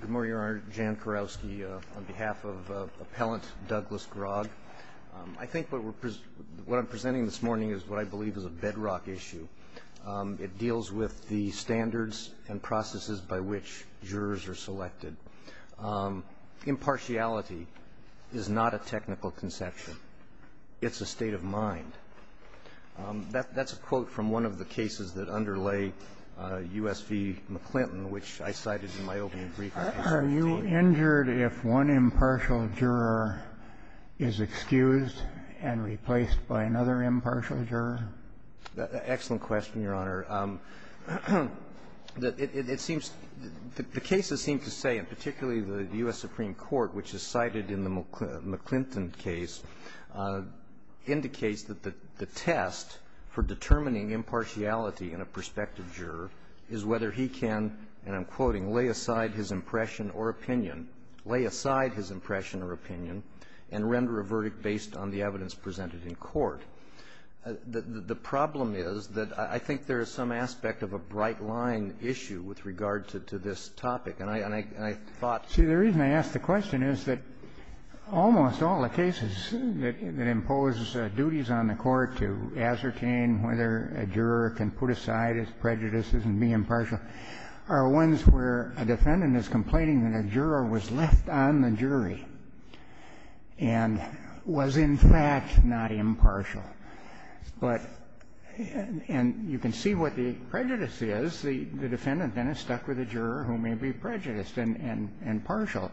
Good morning, Your Honor. Jan Kurowski on behalf of Appellant Douglas Grogg. I think what I'm presenting this morning is what I believe is a bedrock issue. It deals with the standards and processes by which jurors are selected. Impartiality is not a technical conception. It's a state of mind. That's a quote from one of the cases that underlay U.S. v. McClinton, which I cited in my opening brief. Are you injured if one impartial juror is excused and replaced by another impartial juror? Excellent question, Your Honor. It seems the cases seem to say, and particularly the U.S. Supreme Court, which is cited in the McClinton case, indicates that the test for determining impartiality in a prospective juror is whether he can, and I'm quoting, lay aside his impression or opinion, lay aside his impression or opinion, and render a verdict based on the evidence presented in court. The problem is that I think there is some aspect of a bright-line issue with regard to this topic. And I thought the reason I ask the question is that almost all the cases that impose duties on the court to ascertain whether a juror can put aside his prejudices and be impartial are ones where a defendant is complaining that a juror was left on the jury and was, in fact, not impartial. But you can see what the prejudice is. The defendant, then, is stuck with a juror who may be prejudiced and impartial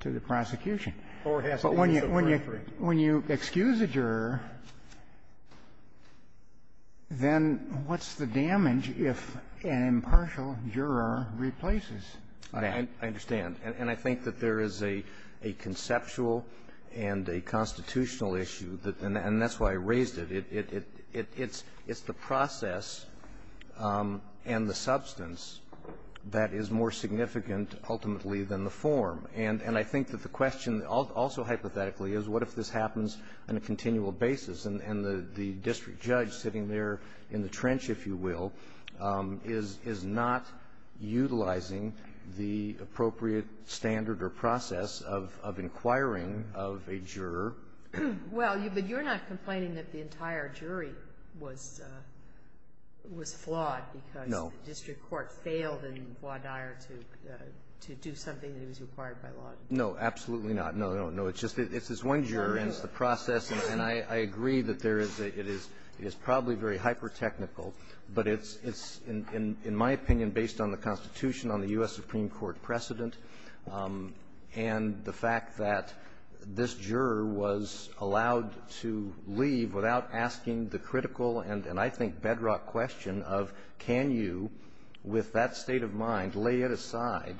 to the prosecution. But when you excuse a juror, then what's the damage if an impartial juror replaces that? I understand. And I think that there is a conceptual and a constitutional issue, and that's why I raised it. It's the process and the substance that is more significant ultimately than the form. And I think that the question, also hypothetically, is what if this happens on a continual basis, and the district judge sitting there in the trench, if you will, is not utilizing the appropriate standard or process of inquiring of a juror. Well, but you're not complaining that the entire jury was flawed because the district court failed in Bois d'Ire to do something that was required by law? No, absolutely not. No, no, no. It's just it's this one juror, and it's the process. And I agree that there is a – it is probably very hypertechnical, but it's, in my opinion, based on the Constitution, on the U.S. Supreme Court precedent, and the fact that this juror was allowed to leave without asking the critical and, I think, bedrock question of can you, with that state of mind, lay it aside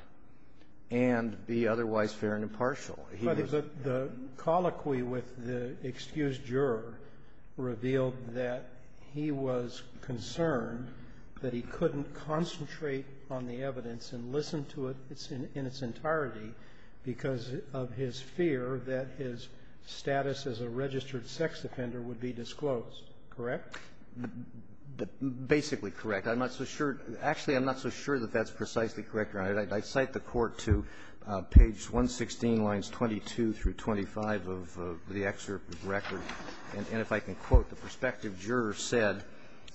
and be otherwise fair and impartial. But the colloquy with the excused juror revealed that he was concerned that he couldn't concentrate on the evidence and listen to it in its entirety because of his fear that his status as a registered sex offender would be disclosed, correct? Basically correct. I'm not so sure – actually, I'm not so sure that that's precisely correct or not. I cite the Court to page 116, lines 22 through 25 of the excerpt of the record. And if I can quote, the prospective juror said,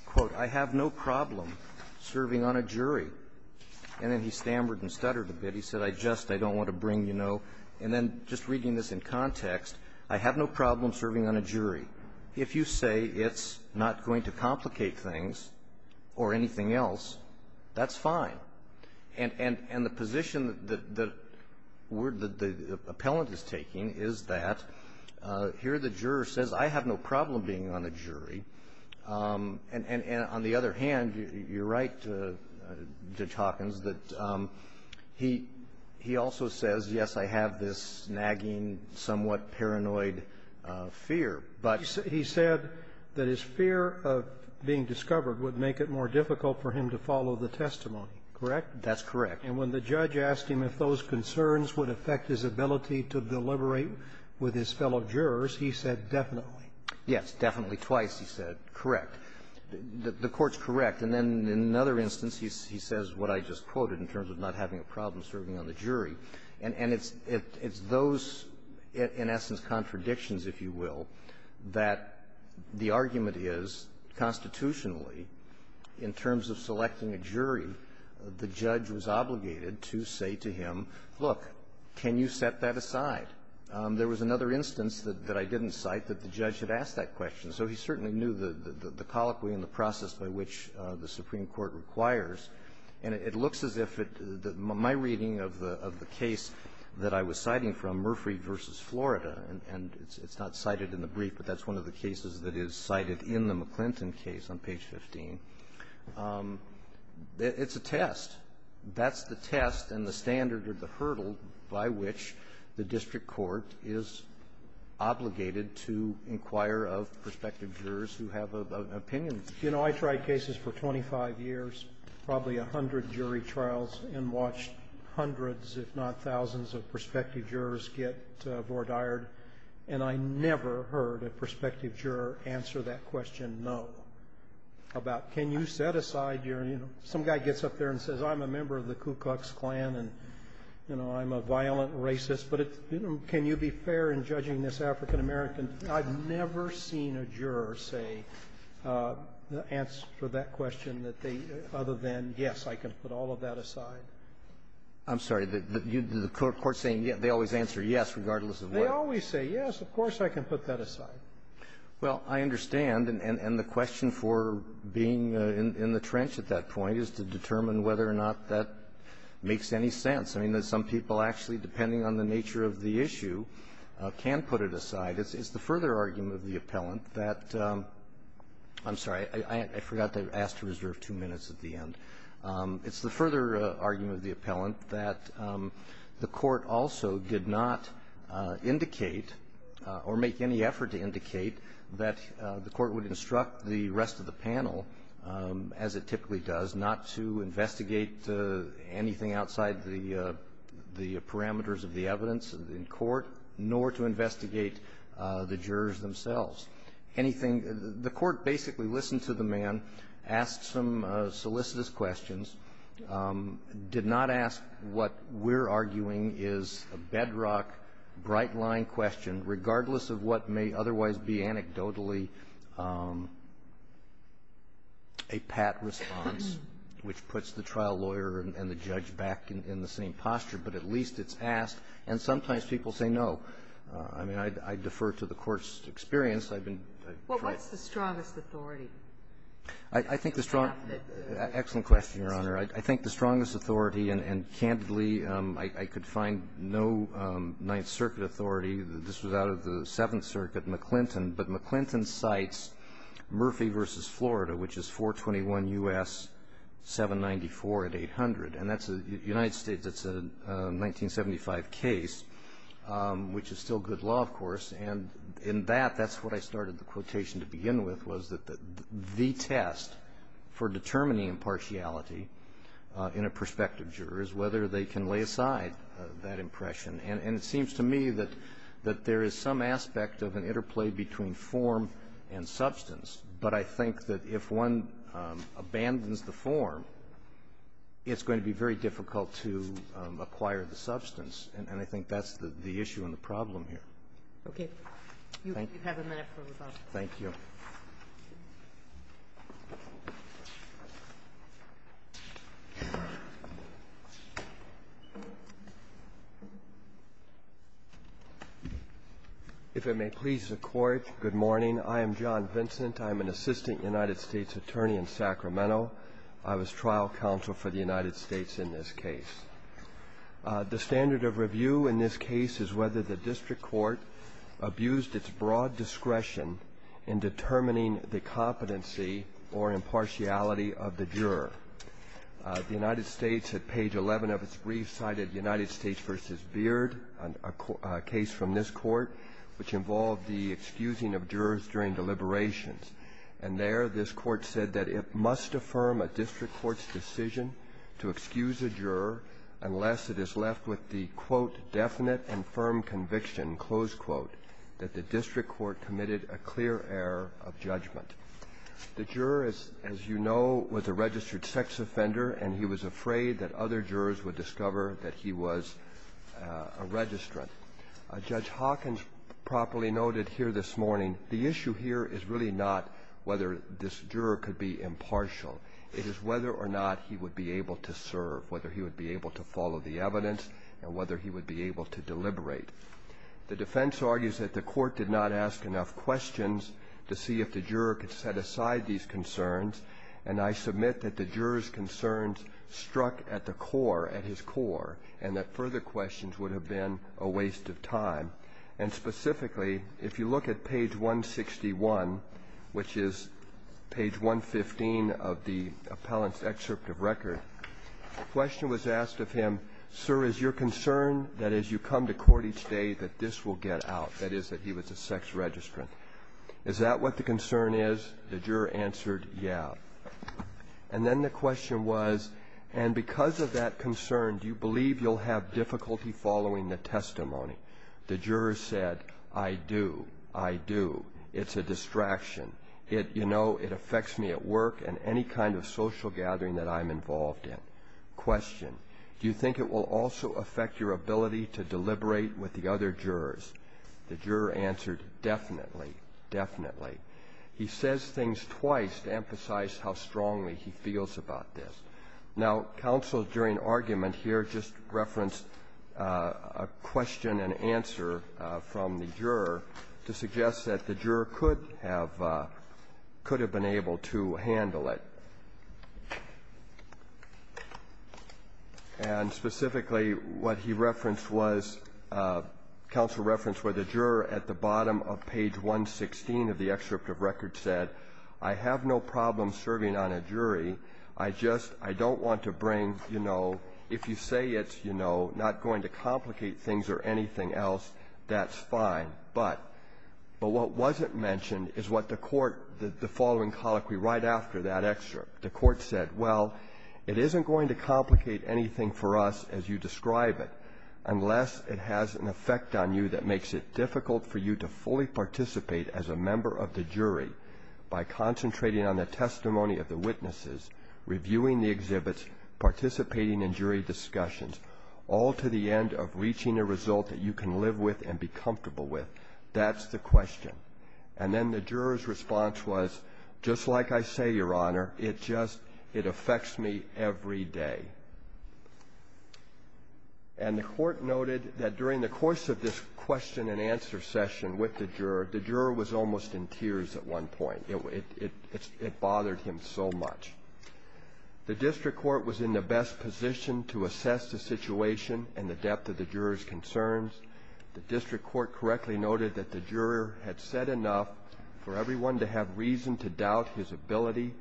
quote, I have no problem serving on a jury. And then he stammered and stuttered a bit. He said, I just, I don't want to bring, you know. And then just reading this in context, I have no problem serving on a jury. If you say it's not going to complicate things or anything else, that's fine. And the position that the word that the appellant is taking is that here the juror says, I have no problem being on a jury. And on the other hand, you're right, Judge Hawkins, that he also says, yes, I have this snagging, somewhat paranoid fear, but he said that his fear of being discovered would make it more difficult for him to follow the testimony, correct? That's correct. And when the judge asked him if those concerns would affect his ability to deliberate with his fellow jurors, he said definitely. Yes. Definitely. Twice he said, correct. The Court's correct. And then in another instance, he says what I just quoted in terms of not having a problem serving on the jury. And it's those, in essence, contradictions, if you will, that the argument is constitutionally in terms of selecting a jury, the judge was obligated to say to him, look, can you set that aside? There was another instance that I didn't cite that the judge had asked that question. So he certainly knew the colloquy and the process by which the Supreme Court requires. And it looks as if it my reading of the case that I was citing from Murphy v. Florida, and it's not cited in the brief, but that's one of the cases that is cited in the Supreme Court briefing, it's a test. That's the test and the standard or the hurdle by which the district court is obligated to inquire of prospective jurors who have an opinion. You know, I tried cases for 25 years, probably a hundred jury trials, and watched hundreds, if not thousands, of prospective jurors get voir dired, and I never heard a prospective juror answer that question, no, about can you set aside your, you know. Some guy gets up there and says, I'm a member of the Ku Klux Klan, and, you know, I'm a violent racist, but it's, you know, can you be fair in judging this African-American? I've never seen a juror say the answer for that question that they, other than, yes, I can put all of that aside. I'm sorry. The court saying they always answer yes, regardless of what? They always say yes. Of course I can put that aside. Well, I understand. And the question for being in the trench at that point is to determine whether or not that makes any sense. I mean, some people, actually, depending on the nature of the issue, can put it aside. It's the further argument of the appellant that the court also did not indicate or make any effort to indicate that the court would instruct the rest of the panel, as it typically does, not to investigate anything outside the parameters of the evidence in court, nor to investigate the jurors themselves. Anything the court basically listened to the man, asked some solicitous questions, did not ask what we're arguing is a bedrock, bright-line question, regardless of what may otherwise be anecdotally a pat response, which puts the trial lawyer and the judge back in the same posture. But at least it's asked. And sometimes people say no. I mean, I defer to the court's experience. I've been try to ---- Well, what's the strongest authority? I think the strong ---- Excellent question, Your Honor. I think the strongest authority, and candidly, I could find no Ninth Circuit authority that this was out of the Seventh Circuit, McClinton. But McClinton cites Murphy v. Florida, which is 421 U.S. 794 at 800. And that's a United States 1975 case, which is still good law, of course. And in that, that's what I started the quotation to begin with, was that the test for determining impartiality in a prospective juror is whether they can lay aside that impression. And it seems to me that there is some aspect of an interplay between form and substance. But I think that if one abandons the form, it's going to be very difficult to acquire the substance. And I think that's the issue and the problem here. Okay. You have a minute for rebuttal. Thank you. If it may please the Court, good morning. I am John Vincent. I am an assistant United States attorney in Sacramento. I was trial counsel for the United States in this case. The standard of review in this case is whether the district court abused its broad discretion in determining the competency or impartiality of the juror. The United States, at page 11 of its brief, cited United States v. Beard, a case from this court, which involved the excusing of jurors during deliberations. And there, this court said that it must affirm a district court's decision to excuse a juror unless it is left with the, quote, definite and firm conviction, close quote, that the district court committed a clear error of judgment. The juror, as you know, was a registered sex offender, and he was afraid that other jurors would discover that he was a registrant. Judge Hawkins properly noted here this morning, the issue here is really not whether this juror could be impartial. It is whether or not he would be able to serve, whether he would be able to follow the evidence, and whether he would be able to deliberate. The defense argues that the court did not ask enough questions to see if the juror could set aside these concerns. And I submit that the juror's concerns struck at the core, at his core, and that further questions would have been a waste of time. And specifically, if you look at page 161, which is page 115 of the appellant's excerpt of record, a question was asked of him, sir, is your concern that as you come to court each day that this will get out, that is, that he was a sex registrant? Is that what the concern is? The juror answered, yeah. And then the question was, and because of that concern, do you believe you'll have difficulty following the testimony? The juror said, I do, I do. It's a distraction. It affects me at work and any kind of social gathering that I'm involved in. Question, do you think it will also affect your ability to deliberate with the other jurors? The juror answered, definitely, definitely. He says things twice to emphasize how strongly he feels about this. Now, counsel during argument here just referenced a question and the juror could have been able to handle it. And specifically, what he referenced was, counsel referenced where the juror at the bottom of page 116 of the excerpt of record said, I have no problem serving on a jury. I just, I don't want to bring, if you say it's not going to complicate things or anything else, that's fine. But what wasn't mentioned is what the court, the following colloquy right after that excerpt, the court said, well, it isn't going to complicate anything for us as you describe it, unless it has an effect on you that makes it difficult for you to fully participate as a member of the jury. By concentrating on the testimony of the witnesses, reviewing the exhibits, participating in jury discussions, all to the end of reaching a result that you can live with and be comfortable with, that's the question. And then the juror's response was, just like I say, Your Honor, it just, it affects me every day. And the court noted that during the course of this question and answer session with the juror, the juror was almost in tears at one point. It bothered him so much. The district court was in the best position to assess the situation and the depth of the juror's concerns. The district court correctly noted that the juror had said enough for everyone to have reason to doubt his ability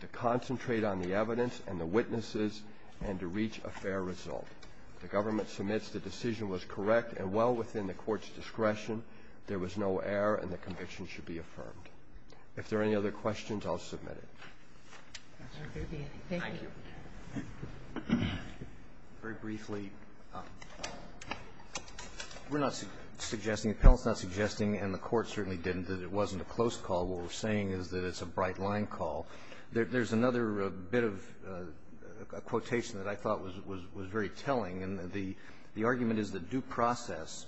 to concentrate on the evidence and the witnesses and to reach a fair result. The government submits the decision was correct and well within the court's discretion. There was no error and the conviction should be affirmed. If there are any other questions, I'll submit it. Thank you. Very briefly, we're not suggesting, the panel's not suggesting, and the court certainly didn't, that it wasn't a close call. What we're saying is that it's a bright-line call. There's another bit of quotation that I thought was very telling, and the argument is that due process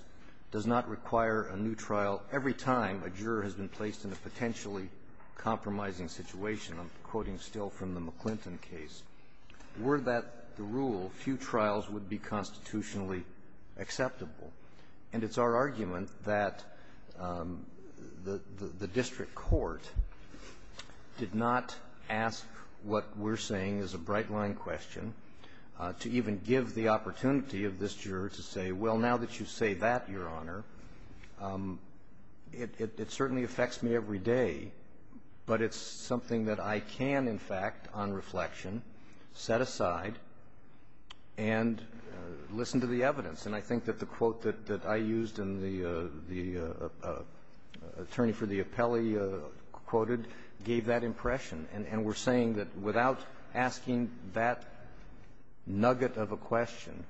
does not require a new trial every time a juror has been placed in a potentially compromising situation. I'm quoting still from the McClinton case. Were that the rule, few trials would be constitutionally acceptable. And it's our argument that the district court did not ask what we're saying is a bright-line question to even give the opportunity of this juror to say, well, now that you say that, Your Honor, it certainly affects me every day, but it's something that I would say that I can, in fact, on reflection, set aside and listen to the evidence. And I think that the quote that I used and the attorney for the appellee quoted gave that impression. And we're saying that without asking that nugget of a question,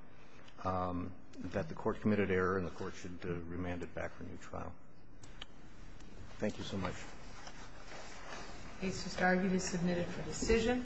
that the court committed error and the court should remand it back for a new trial. Thank you so much. Case to start, you've been submitted for decision.